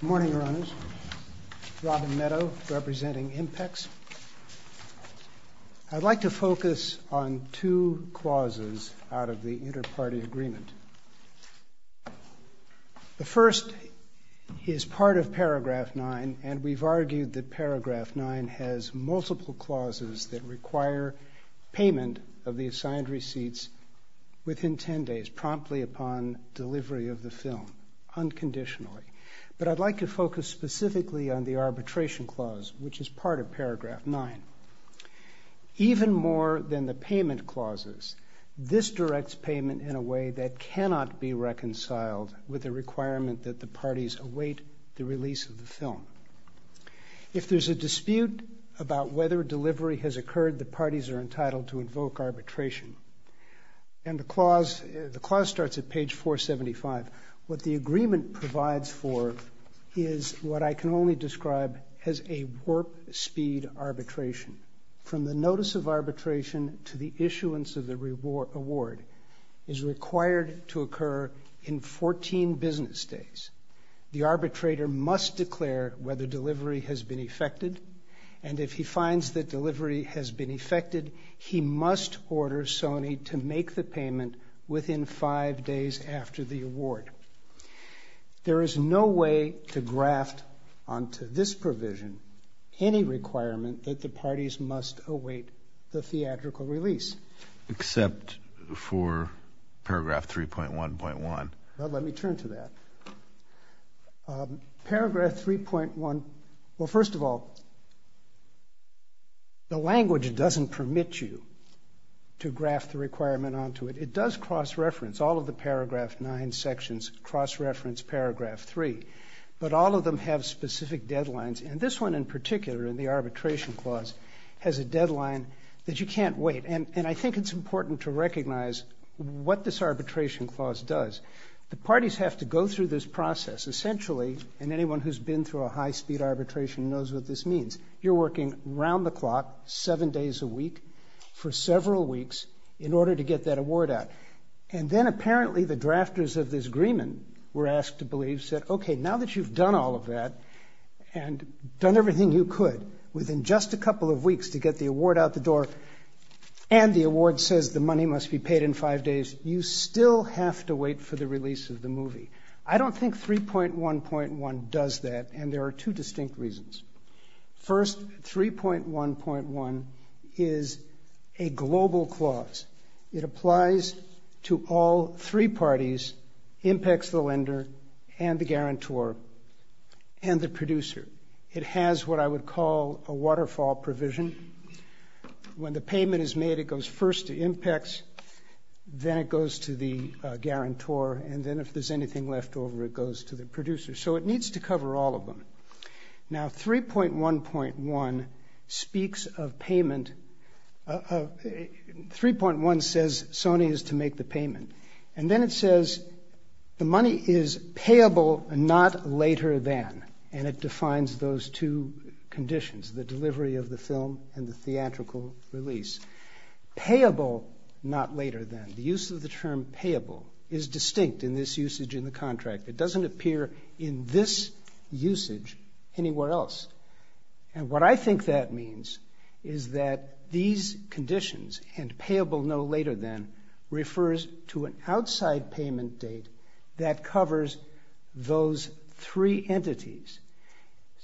Good morning, Your Honors. Robin Meadow, representing IMPEX. I'd like to focus on two clauses out of the Interparty Agreement. The first is part of paragraph 9, and we've argued that paragraph 9 has multiple clauses that require payment of the assigned receipts within 10 days, promptly upon delivery of the film, unconditionally. But I'd like to focus specifically on the arbitration clause, which is part of paragraph 9. Even more than the payment clauses, this directs payment in a way that cannot be reconciled with the requirement that the parties await the release of the film. If there's a dispute about whether delivery has occurred, the parties are entitled to invoke arbitration. And the clause starts at page 475. What the agreement provides for is what I can only describe as a warp speed arbitration. From the notice of arbitration to the issuance of the award is required to occur in 14 business days. The arbitrator must declare whether delivery has been effected, and if he finds that delivery has been effected, he must order Sony to make the payment within five days after the award. There is no way to graft onto this provision any requirement that the parties must await the theatrical release. Except for paragraph 3.1.1. Let me turn to that. Paragraph 3.1. Well, first of all, the language doesn't permit you to graft the requirement onto it. It does cross-reference all of the paragraph 9 sections, cross-reference paragraph 3. But all of them have specific deadlines. And this one in particular, in the arbitration clause, has a deadline that you can't wait. And I think it's important to recognize what this arbitration clause does. The parties have to go through this process. Essentially, and anyone who's been through a high-speed arbitration knows what this means, you're working around the clock, seven days a week, for several weeks in order to get that award out. And then apparently the drafters of this agreement were asked to believe, said, okay, now that you've done all of that and done everything you could within just a couple of weeks to get the award out the door and the award says the money must be paid in five days, you still have to wait for the release of the movie. I don't think 3.1.1 does that, and there are two distinct reasons. First, 3.1.1 is a global clause. It applies to all three parties, IMPECS, the lender, and the guarantor, and the producer. It has what I would call a waterfall provision. When the payment is made, it goes first to IMPECS, then it goes to the guarantor, and then if there's anything left over, it goes to the producer. So it needs to cover all of them. Now, 3.1.1 speaks of payment, 3.1 says Sony is to make the payment, and then it says the money is payable and not later than, and it defines those two conditions, the delivery of the film and the theatrical release. Payable, not later than. The use of the term payable is distinct in this usage in the contract. It doesn't appear in this usage anywhere else. And what I think that means is that these conditions and payable no later than refers to an outside payment date that covers those three entities.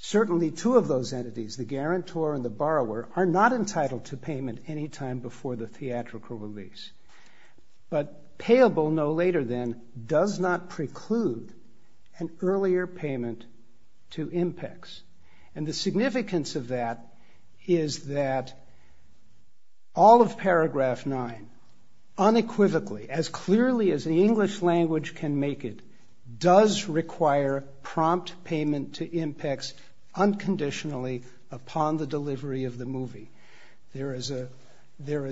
Certainly two of those entities, the guarantor and the borrower, are not entitled to payment any time before the theatrical release. But payable no later than does not preclude an earlier payment to IMPECS. And the significance of that is that all of paragraph 9 unequivocally, as clearly as the English language can make it, does require prompt payment to IMPECS unconditionally upon the delivery of the movie. There is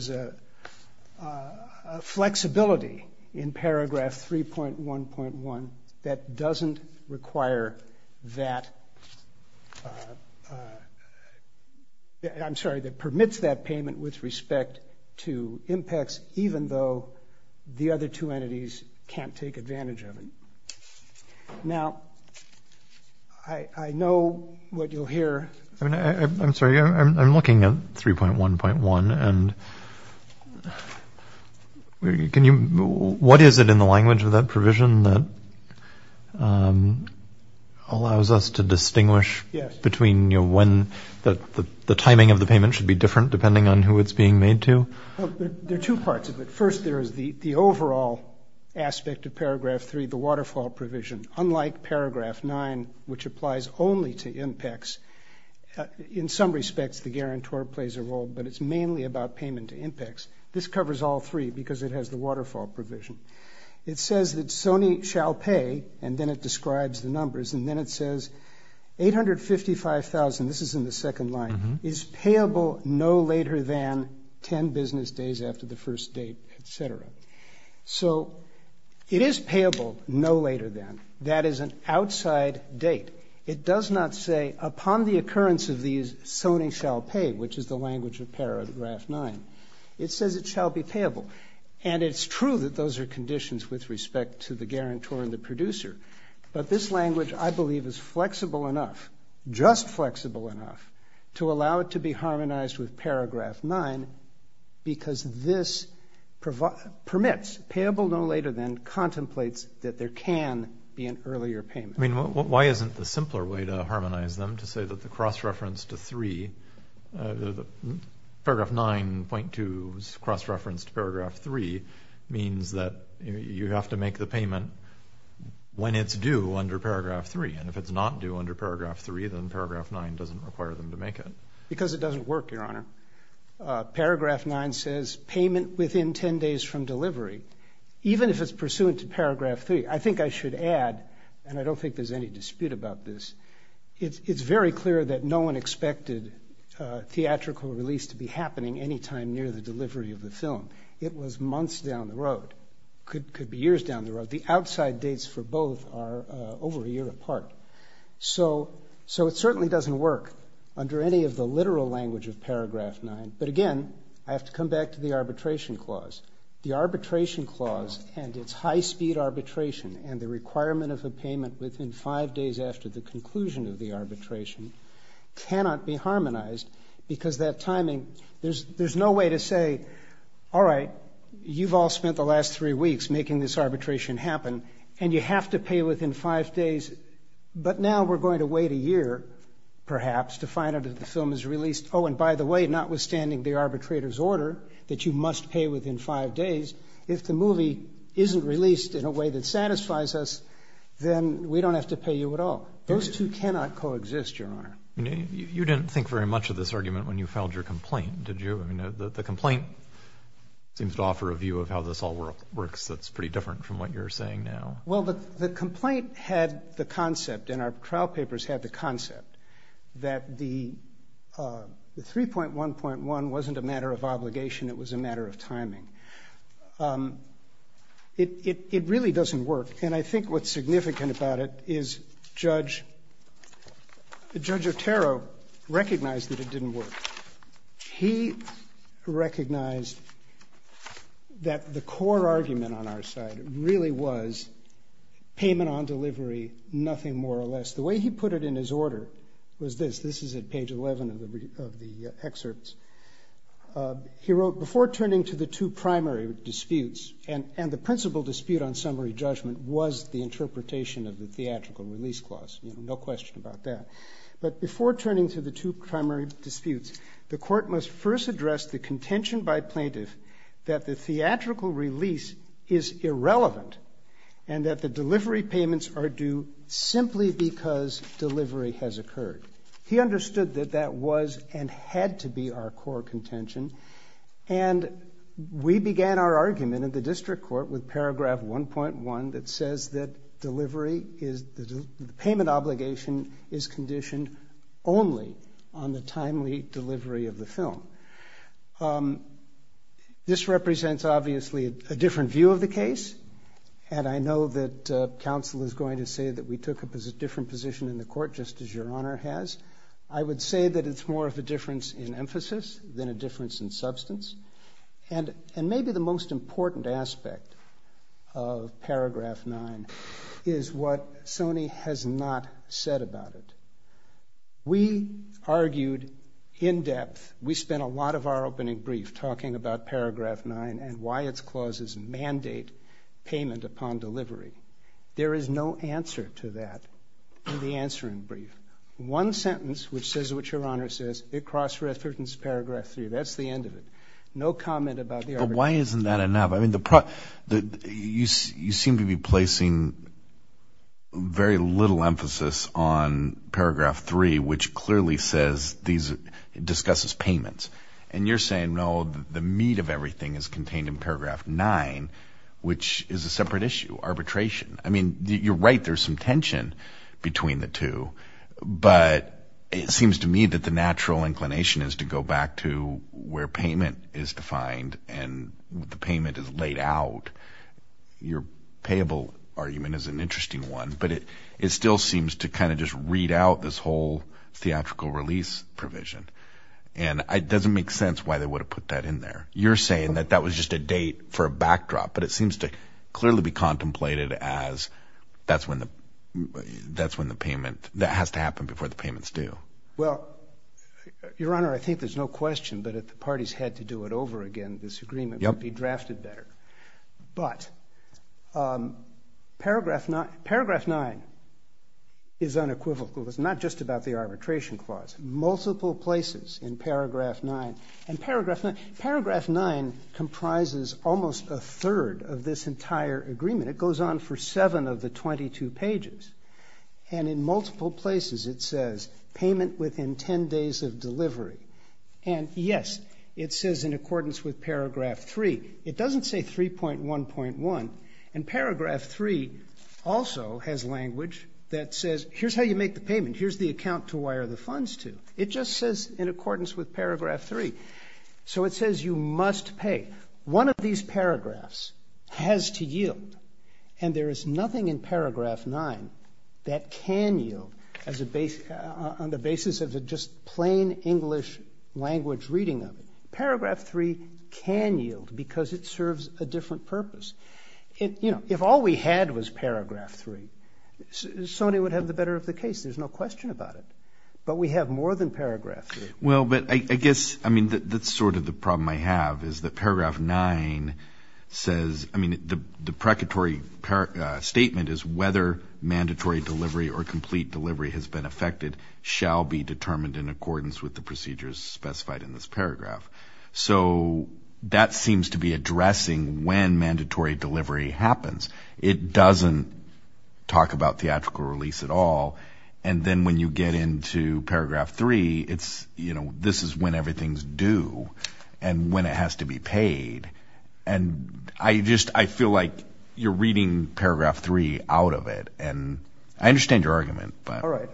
a flexibility in paragraph 3.1.1 that doesn't require that, I'm sorry, that permits that payment with respect to IMPECS, even though the other two entities can't take advantage of it. Now, I know what you'll hear. I'm sorry. I'm looking at 3.1.1. And what is it in the language of that provision that allows us to distinguish between when the timing of the payment should be different depending on who it's being made to? There are two parts of it. First, there is the overall aspect of paragraph 3, the waterfall provision. Unlike paragraph 9, which applies only to IMPECS, in some respects the guarantor plays a role, but it's mainly about payment to IMPECS. This covers all three because it has the waterfall provision. It says that Sony shall pay, and then it describes the numbers, and then it says $855,000, this is in the second line, is payable no later than 10 business days after the first date, et cetera. So it is payable no later than. That is an outside date. It does not say, upon the occurrence of these, Sony shall pay, which is the language of paragraph 9. It says it shall be payable. And it's true that those are conditions with respect to the guarantor and the producer, but this language, I believe, is flexible enough, just flexible enough, to allow it to be harmonized with paragraph 9 because this permits, payable no later than, contemplates that there can be an earlier payment. I mean, why isn't the simpler way to harmonize them, to say that the cross-reference to 3, paragraph 9.2's cross-reference to paragraph 3, means that you have to make the payment when it's due under paragraph 3, and if it's not due under paragraph 3, then paragraph 9 doesn't require them to make it. Because it doesn't work, Your Honor. Paragraph 9 says, payment within 10 days from delivery. Even if it's pursuant to paragraph 3, I think I should add, and I don't think there's any dispute about this, it's very clear that no one expected theatrical release to be happening any time near the delivery of the film. It was months down the road. Could be years down the road. The outside dates for both are over a year apart. So it certainly doesn't work, under any of the literal language of paragraph 9. But again, I have to come back to the arbitration clause. The arbitration clause and its high-speed arbitration, and the requirement of a payment within 5 days after the conclusion of the arbitration, cannot be harmonized, because that timing, there's no way to say, all right, you've all spent the last 3 weeks making this arbitration happen, and you have to pay within 5 days, but now we're going to wait a year, perhaps, to find out if the film is released. Oh, and by the way, notwithstanding the arbitrator's order, that you must pay within 5 days, if the movie isn't released in a way that satisfies us, then we don't have to pay you at all. Those two cannot coexist, Your Honor. You didn't think very much of this argument when you filed your complaint, did you? I mean, the complaint seems to offer a view of how this all works that's pretty different from what you're saying now. Well, the complaint had the concept, and our trial papers had the concept, that the 3.1.1 wasn't a matter of obligation, it was a matter of timing. It really doesn't work, and I think what's significant about it is Judge Otero recognized that it didn't work. He recognized that the core argument on our side really was payment on delivery, nothing more or less. The way he put it in his order was this. This is at page 11 of the excerpts. He wrote, before turning to the two primary disputes, and the principal dispute on summary judgment was the interpretation of the theatrical release clause, no question about that, but before turning to the two primary disputes, the court must first address the contention by plaintiff that the theatrical release is irrelevant and that the delivery payments are due simply because delivery has occurred. He understood that that was and had to be our core contention, and we began our argument at the district court with paragraph 1.1 that says that the payment obligation is conditioned only on the timely delivery of the film. This represents, obviously, a different view of the case, and I know that counsel is going to say that we took a different position in the court, just as Your Honor has. I would say that it's more of a difference in emphasis than a difference in substance, and maybe the most important aspect of paragraph 9 is what Sony has not said about it. We argued in depth, we spent a lot of our opening brief talking about paragraph 9 and why its clauses mandate payment upon delivery. There is no answer to that in the answering brief. One sentence which says what Your Honor says, it cross-references paragraph 3. That's the end of it. No comment about the arbitration. But why isn't that enough? I mean, you seem to be placing very little emphasis on paragraph 3, which clearly discusses payments, and you're saying, no, the meat of everything is contained in paragraph 9, which is a separate issue, arbitration. I mean, you're right, there's some tension between the two, but it seems to me that the natural inclination is to go back to where payment is defined and the payment is laid out. Your payable argument is an interesting one, but it still seems to kind of just read out this whole theatrical release provision, and it doesn't make sense why they would have put that in there. You're saying that that was just a date for a backdrop, but it seems to clearly be contemplated as that's when the payment, that has to happen before the payment's due. Well, Your Honor, I think there's no question, but if the parties had to do it over again, this agreement would be drafted better. But paragraph 9 is unequivocal. It's not just about the arbitration clause. Multiple places in paragraph 9. And paragraph 9 comprises almost a third of this entire agreement. It goes on for seven of the 22 pages. And in multiple places it says payment within 10 days of delivery. And, yes, it says in accordance with paragraph 3. It doesn't say 3.1.1. And paragraph 3 also has language that says here's how you make the payment. Here's the account to wire the funds to. It just says in accordance with paragraph 3. So it says you must pay. One of these paragraphs has to yield, and there is nothing in paragraph 9 that can yield on the basis of just plain English language reading of it. Paragraph 3 can yield because it serves a different purpose. If all we had was paragraph 3, Sony would have the better of the case. There's no question about it. But we have more than paragraph 3. Well, but I guess that's sort of the problem I have is that paragraph 9 says the precatory statement is whether mandatory delivery or complete delivery has been effected shall be determined in accordance with the procedures specified in this paragraph. So that seems to be addressing when mandatory delivery happens. It doesn't talk about theatrical release at all. And then when you get into paragraph 3, I just feel like you're reading paragraph 3 out of it. And I understand your argument. All right.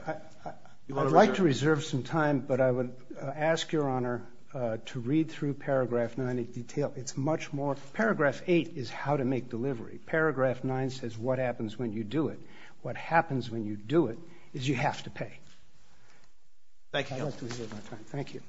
I'd like to reserve some time, but I would ask Your Honor to read through paragraph 9 in detail. It's much more. Paragraph 8 is how to make delivery. Paragraph 9 says what happens when you do it. What happens when you do it is you have to pay. Thank you. I'd like to reserve my time. Thank you.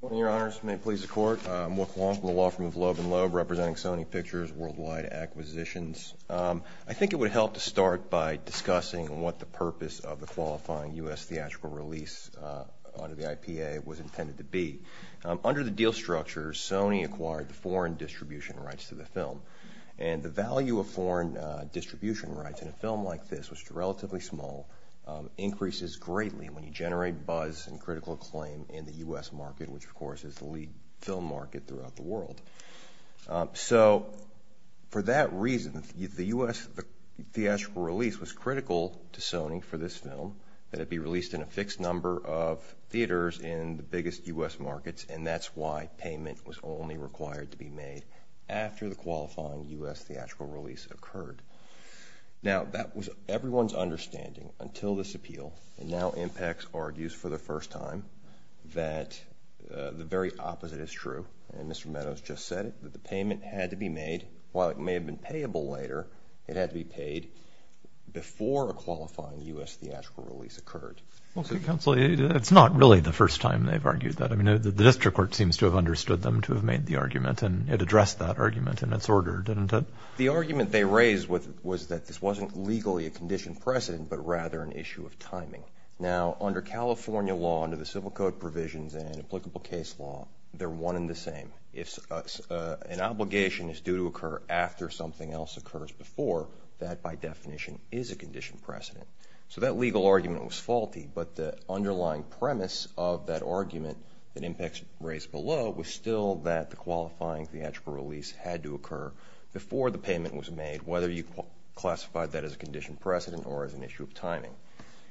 Good morning, Your Honors. May it please the Court. Mark Long from the Law Firm of Loeb & Loeb representing Sony Pictures Worldwide Acquisitions. I think it would help to start by discussing what the purpose of the qualifying U.S. theatrical release under the IPA was intended to be. Under the deal structure, Sony acquired the foreign distribution rights to the film. And the value of foreign distribution rights in a film like this, which is relatively small, increases greatly when you generate buzz and critical acclaim in the U.S. market, which, of course, is the lead film market throughout the world. So for that reason, the U.S. theatrical release was critical to Sony for this film, that it be released in a fixed number of theaters in the biggest U.S. markets, and that's why payment was only required to be made after the qualifying U.S. theatrical release occurred. Now, that was everyone's understanding until this appeal, and now IMPEX argues for the first time that the very opposite is true. And Mr. Meadows just said it, that the payment had to be made. While it may have been payable later, it had to be paid before a qualifying U.S. theatrical release occurred. Counsel, it's not really the first time they've argued that. I mean, the district court seems to have understood them to have made the argument, and it addressed that argument in its order, didn't it? The argument they raised was that this wasn't legally a conditioned precedent but rather an issue of timing. Now, under California law, under the Civil Code provisions and applicable case law, they're one and the same. If an obligation is due to occur after something else occurs before, that, by definition, is a conditioned precedent. So that legal argument was faulty, but the underlying premise of that argument that IMPEX raised below was still that the qualifying theatrical release had to occur before the payment was made, whether you classified that as a conditioned precedent or as an issue of timing.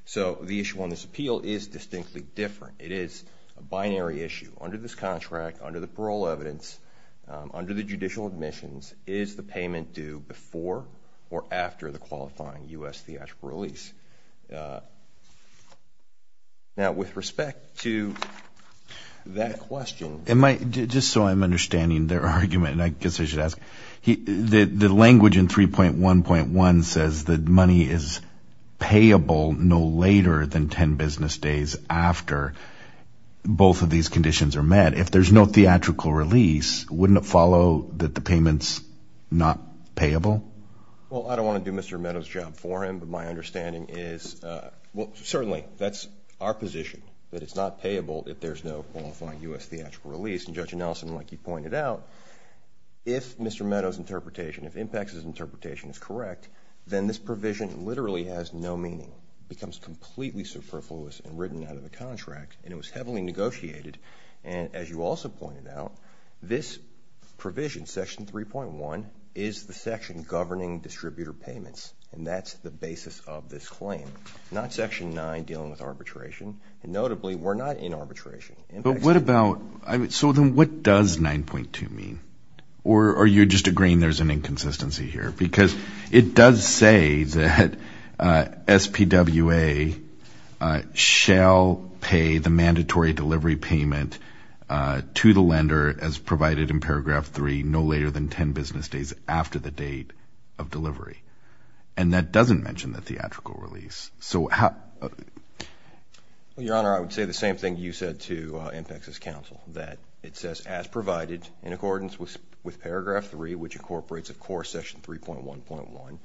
So the issue on this appeal is distinctly different. It is a binary issue. Under this contract, under the parole evidence, under the judicial admissions, is the payment due before or after the qualifying U.S. theatrical release? Now, with respect to that question— Just so I'm understanding their argument, and I guess I should ask, the language in 3.1.1 says that money is payable no later than 10 business days after both of these conditions are met. If there's no theatrical release, wouldn't it follow that the payment's not payable? Well, I don't want to do Mr. Meadows' job for him, but my understanding is certainly that's our position, that it's not payable if there's no qualifying U.S. theatrical release. And Judge Nelson, like you pointed out, if Mr. Meadows' interpretation, if IMPEX's interpretation is correct, then this provision literally has no meaning. It becomes completely superfluous and written out of the contract, and it was heavily negotiated. And as you also pointed out, this provision, Section 3.1, is the section governing distributor payments, and that's the basis of this claim, not Section 9 dealing with arbitration. And notably, we're not in arbitration. But what about—so then what does 9.2 mean? Or are you just agreeing there's an inconsistency here? Because it does say that SPWA shall pay the mandatory delivery payment to the lender as provided in paragraph 3, no later than 10 business days after the date of delivery. And that doesn't mention the theatrical release. Your Honor, I would say the same thing you said to IMPEX's counsel, that it says as provided in accordance with paragraph 3, which incorporates, of course, Section 3.1.1.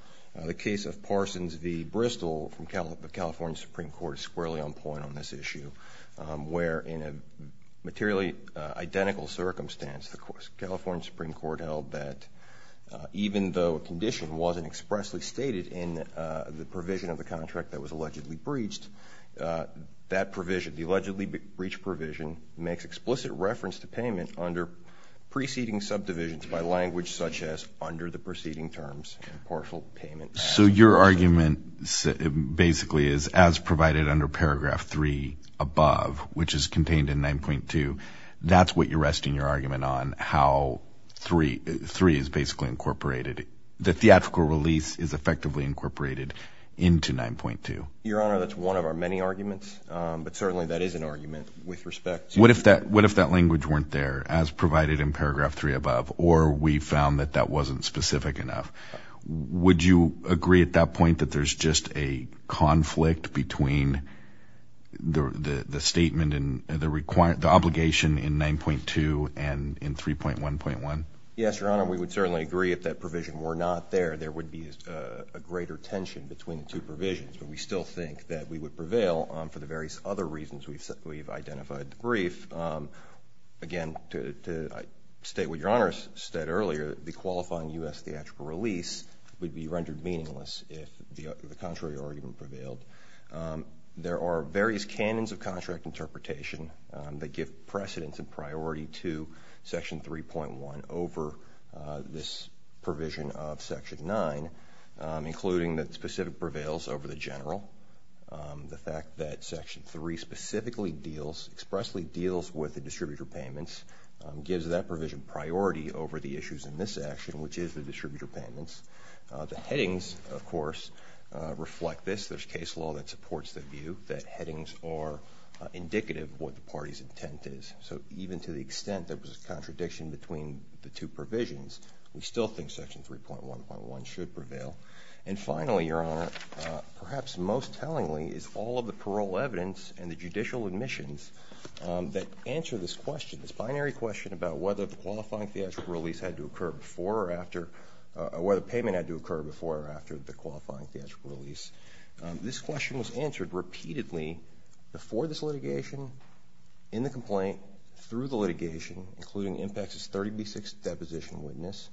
The case of Parsons v. Bristol from the California Supreme Court is squarely on point on this issue, where in a materially identical circumstance, the California Supreme Court held that even though a condition wasn't expressly stated in the provision of the contract that was allegedly breached, that provision, the allegedly breached provision, makes explicit reference to payment under preceding subdivisions by language such as under the preceding terms and partial payment. So your argument basically is as provided under paragraph 3 above, which is contained in 9.2, that's what you're resting your argument on, how 3 is basically incorporated. The theatrical release is effectively incorporated into 9.2. Your Honor, that's one of our many arguments, but certainly that is an argument with respect to the language. What if that language weren't there as provided in paragraph 3 above, or we found that that wasn't specific enough? Would you agree at that point that there's just a conflict between the statement and the obligation in 9.2 and in 3.1.1? Yes, Your Honor. We would certainly agree if that provision were not there, there would be a greater tension between the two provisions, but we still think that we would prevail for the various other reasons we've identified in the brief. Again, to state what Your Honor said earlier, the qualifying U.S. theatrical release would be rendered meaningless if the contrary argument prevailed. There are various canons of contract interpretation that give precedence and priority to Section 3.1 over this provision of Section 9, including that specific prevails over the general. The fact that Section 3 specifically deals, expressly deals with the distributor payments, gives that provision priority over the issues in this action, which is the distributor payments. The headings, of course, reflect this. There's case law that supports the view that headings are indicative of what the party's intent is. So even to the extent there was a contradiction between the two provisions, we still think Section 3.1.1 should prevail. And finally, Your Honor, perhaps most tellingly, is all of the parole evidence and the judicial admissions that answer this question, this binary question about whether the qualifying theatrical release had to occur before or after, or whether payment had to occur before or after the qualifying theatrical release. This question was answered repeatedly before this litigation, in the complaint, through the litigation, including IMPACTS' 30B6 deposition witness,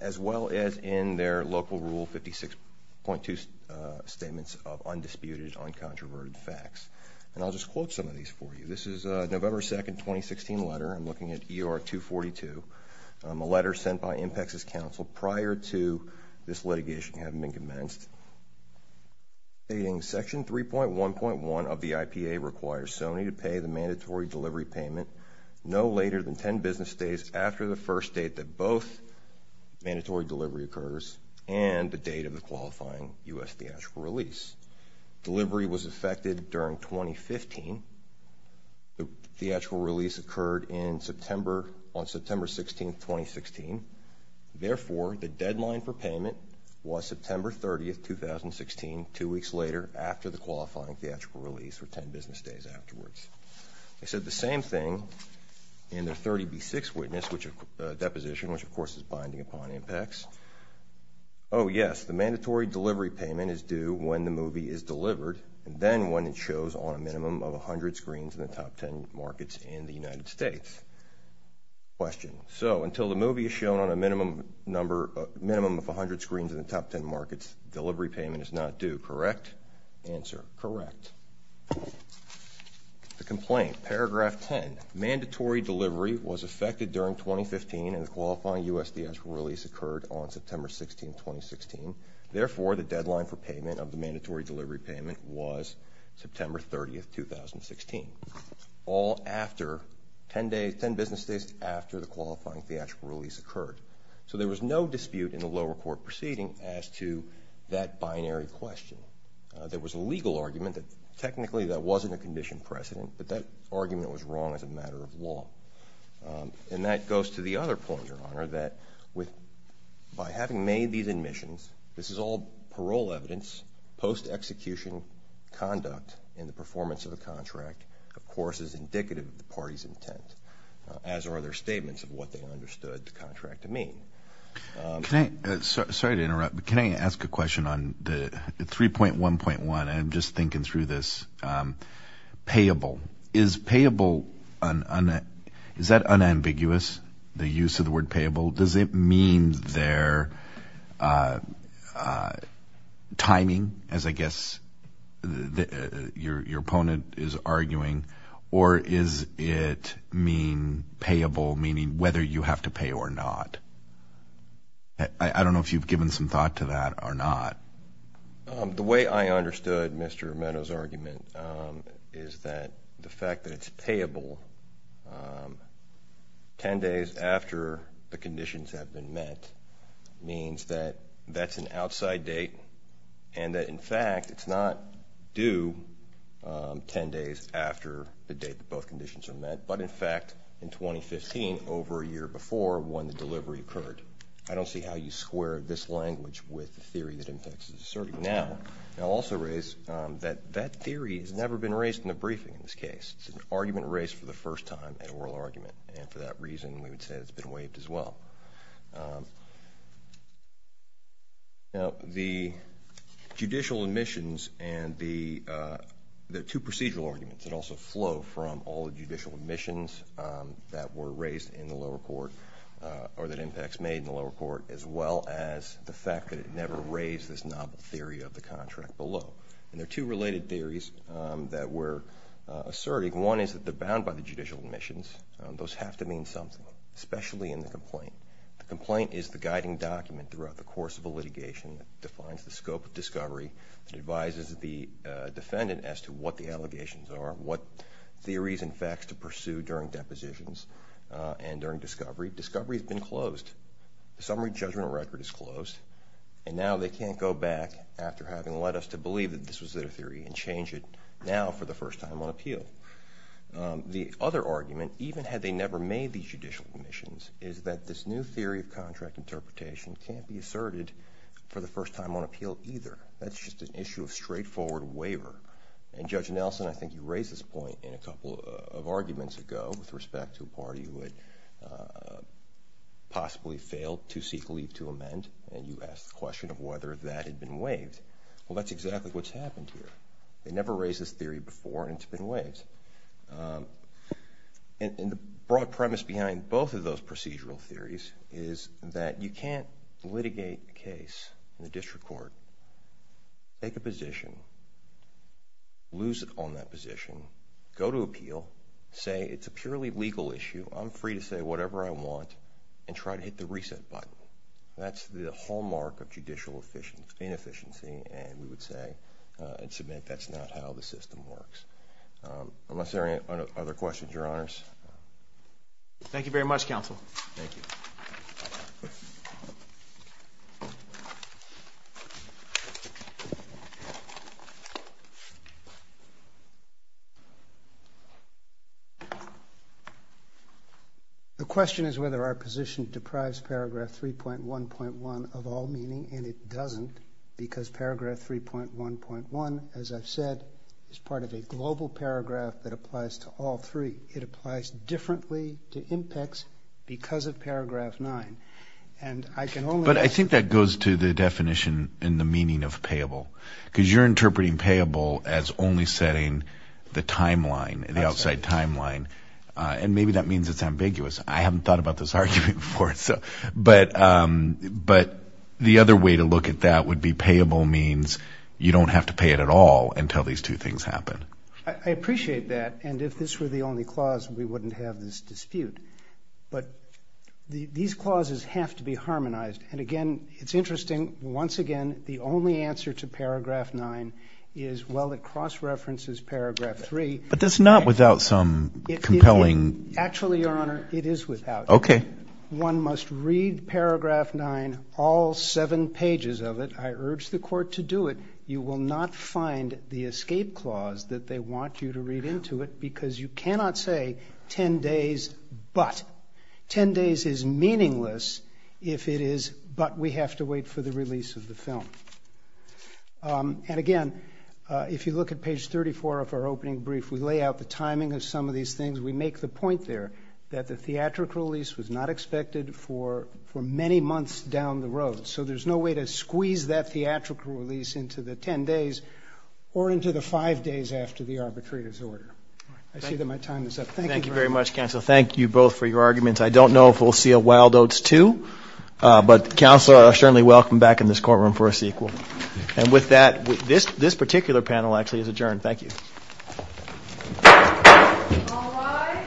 as well as in their local Rule 56.2 statements of undisputed, uncontroverted facts. And I'll just quote some of these for you. This is a November 2, 2016, letter. I'm looking at ER 242, a letter sent by IMPACTS' counsel prior to this litigation having been commenced. Stating, Section 3.1.1 of the IPA requires SONY to pay the mandatory delivery payment no later than 10 business days after the first date that both mandatory delivery occurs and the date of the qualifying U.S. theatrical release. Delivery was effected during 2015. The theatrical release occurred on September 16, 2016. Therefore, the deadline for payment was September 30, 2016, two weeks later after the qualifying theatrical release for 10 business days afterwards. They said the same thing in their 30B6 deposition, which of course is binding upon IMPACTS. Oh, yes. The mandatory delivery payment is due when the movie is delivered and then when it shows on a minimum of 100 screens in the top 10 markets in the United States. Question. So until the movie is shown on a minimum of 100 screens in the top 10 markets, delivery payment is not due, correct? Answer. Correct. The complaint, paragraph 10. Mandatory delivery was effected during 2015 and the qualifying U.S. theatrical release occurred on September 16, 2016. Therefore, the deadline for payment of the mandatory delivery payment was September 30, 2016, all after 10 business days after the qualifying theatrical release occurred. So there was no dispute in the lower court proceeding as to that binary question. There was a legal argument that technically that wasn't a condition precedent, but that argument was wrong as a matter of law. And that goes to the other point, Your Honor, that by having made these admissions, this is all parole evidence, post-execution conduct in the performance of a contract, of course is indicative of the party's intent, as are their statements of what they understood the contract to mean. Sorry to interrupt, but can I ask a question on 3.1.1? I'm just thinking through this. Payable. Is that unambiguous, the use of the word payable? Does it mean their timing, as I guess your opponent is arguing, or does it mean payable, meaning whether you have to pay or not? I don't know if you've given some thought to that or not. The way I understood Mr. Meadows' argument is that the fact that it's payable 10 days after the conditions have been met means that that's an outside date and that, in fact, it's not due 10 days after the date that both conditions are met, but, in fact, in 2015, over a year before when the delivery occurred. I don't see how you square this language with the theory that IMPEX is asserting now. I'll also raise that that theory has never been raised in the briefing in this case. It's an argument raised for the first time at oral argument, and for that reason we would say it's been waived as well. The judicial admissions and the two procedural arguments that also flow from all the judicial admissions that were raised in the lower court, or that IMPEX made in the lower court, as well as the fact that it never raised this novel theory of the contract below. And there are two related theories that we're asserting. One is that they're bound by the judicial admissions. Those have to mean something, especially in the complaint. The complaint is the guiding document throughout the course of a litigation that defines the scope of discovery, that advises the defendant as to what the allegations are, what theories and facts to pursue during depositions and during discovery. Discovery has been closed. The summary judgment record is closed, and now they can't go back after having led us to believe that this was their theory and change it now for the first time on appeal. The other argument, even had they never made these judicial admissions, is that this new theory of contract interpretation can't be asserted for the first time on appeal either. That's just an issue of straightforward waiver. And Judge Nelson, I think you raised this point in a couple of arguments ago with respect to a party who had possibly failed to seek leave to amend, and you asked the question of whether that had been waived. Well, that's exactly what's happened here. They never raised this theory before, and it's been waived. And the broad premise behind both of those procedural theories is that you can't litigate a case in the district court, take a position, lose on that position, go to appeal, say it's a purely legal issue, I'm free to say whatever I want, and try to hit the reset button. That's the hallmark of judicial inefficiency, and we would say and submit that's not how the system works. Unless there are any other questions, Your Honors. Thank you very much, Counsel. Thank you. Thank you. The question is whether our position deprives Paragraph 3.1.1 of all meaning, and it doesn't because Paragraph 3.1.1, as I've said, is part of a global paragraph that applies to all three. It applies differently to impacts because of Paragraph 9. But I think that goes to the definition in the meaning of payable because you're interpreting payable as only setting the timeline, the outside timeline, and maybe that means it's ambiguous. I haven't thought about this argument before, but the other way to look at that would be payable means you don't have to pay it at all until these two things happen. I appreciate that, and if this were the only clause, we wouldn't have this dispute. But these clauses have to be harmonized, and, again, it's interesting. Once again, the only answer to Paragraph 9 is, well, it cross-references Paragraph 3. But that's not without some compelling. Actually, Your Honor, it is without. Okay. One must read Paragraph 9, all seven pages of it. I urge the Court to do it. You will not find the escape clause that they want you to read into it because you cannot say 10 days but. Ten days is meaningless if it is but we have to wait for the release of the film. And, again, if you look at page 34 of our opening brief, we lay out the timing of some of these things. We make the point there that the theatrical release was not expected for many months down the road, so there's no way to squeeze that theatrical release into the 10 days or into the five days after the arbitrary disorder. I see that my time is up. Thank you, Your Honor. Thank you very much, counsel. Thank you both for your arguments. I don't know if we'll see a Wild Oats 2, but counsel are certainly welcome back in this courtroom for a sequel. And with that, this particular panel actually is adjourned. Thank you. All rise.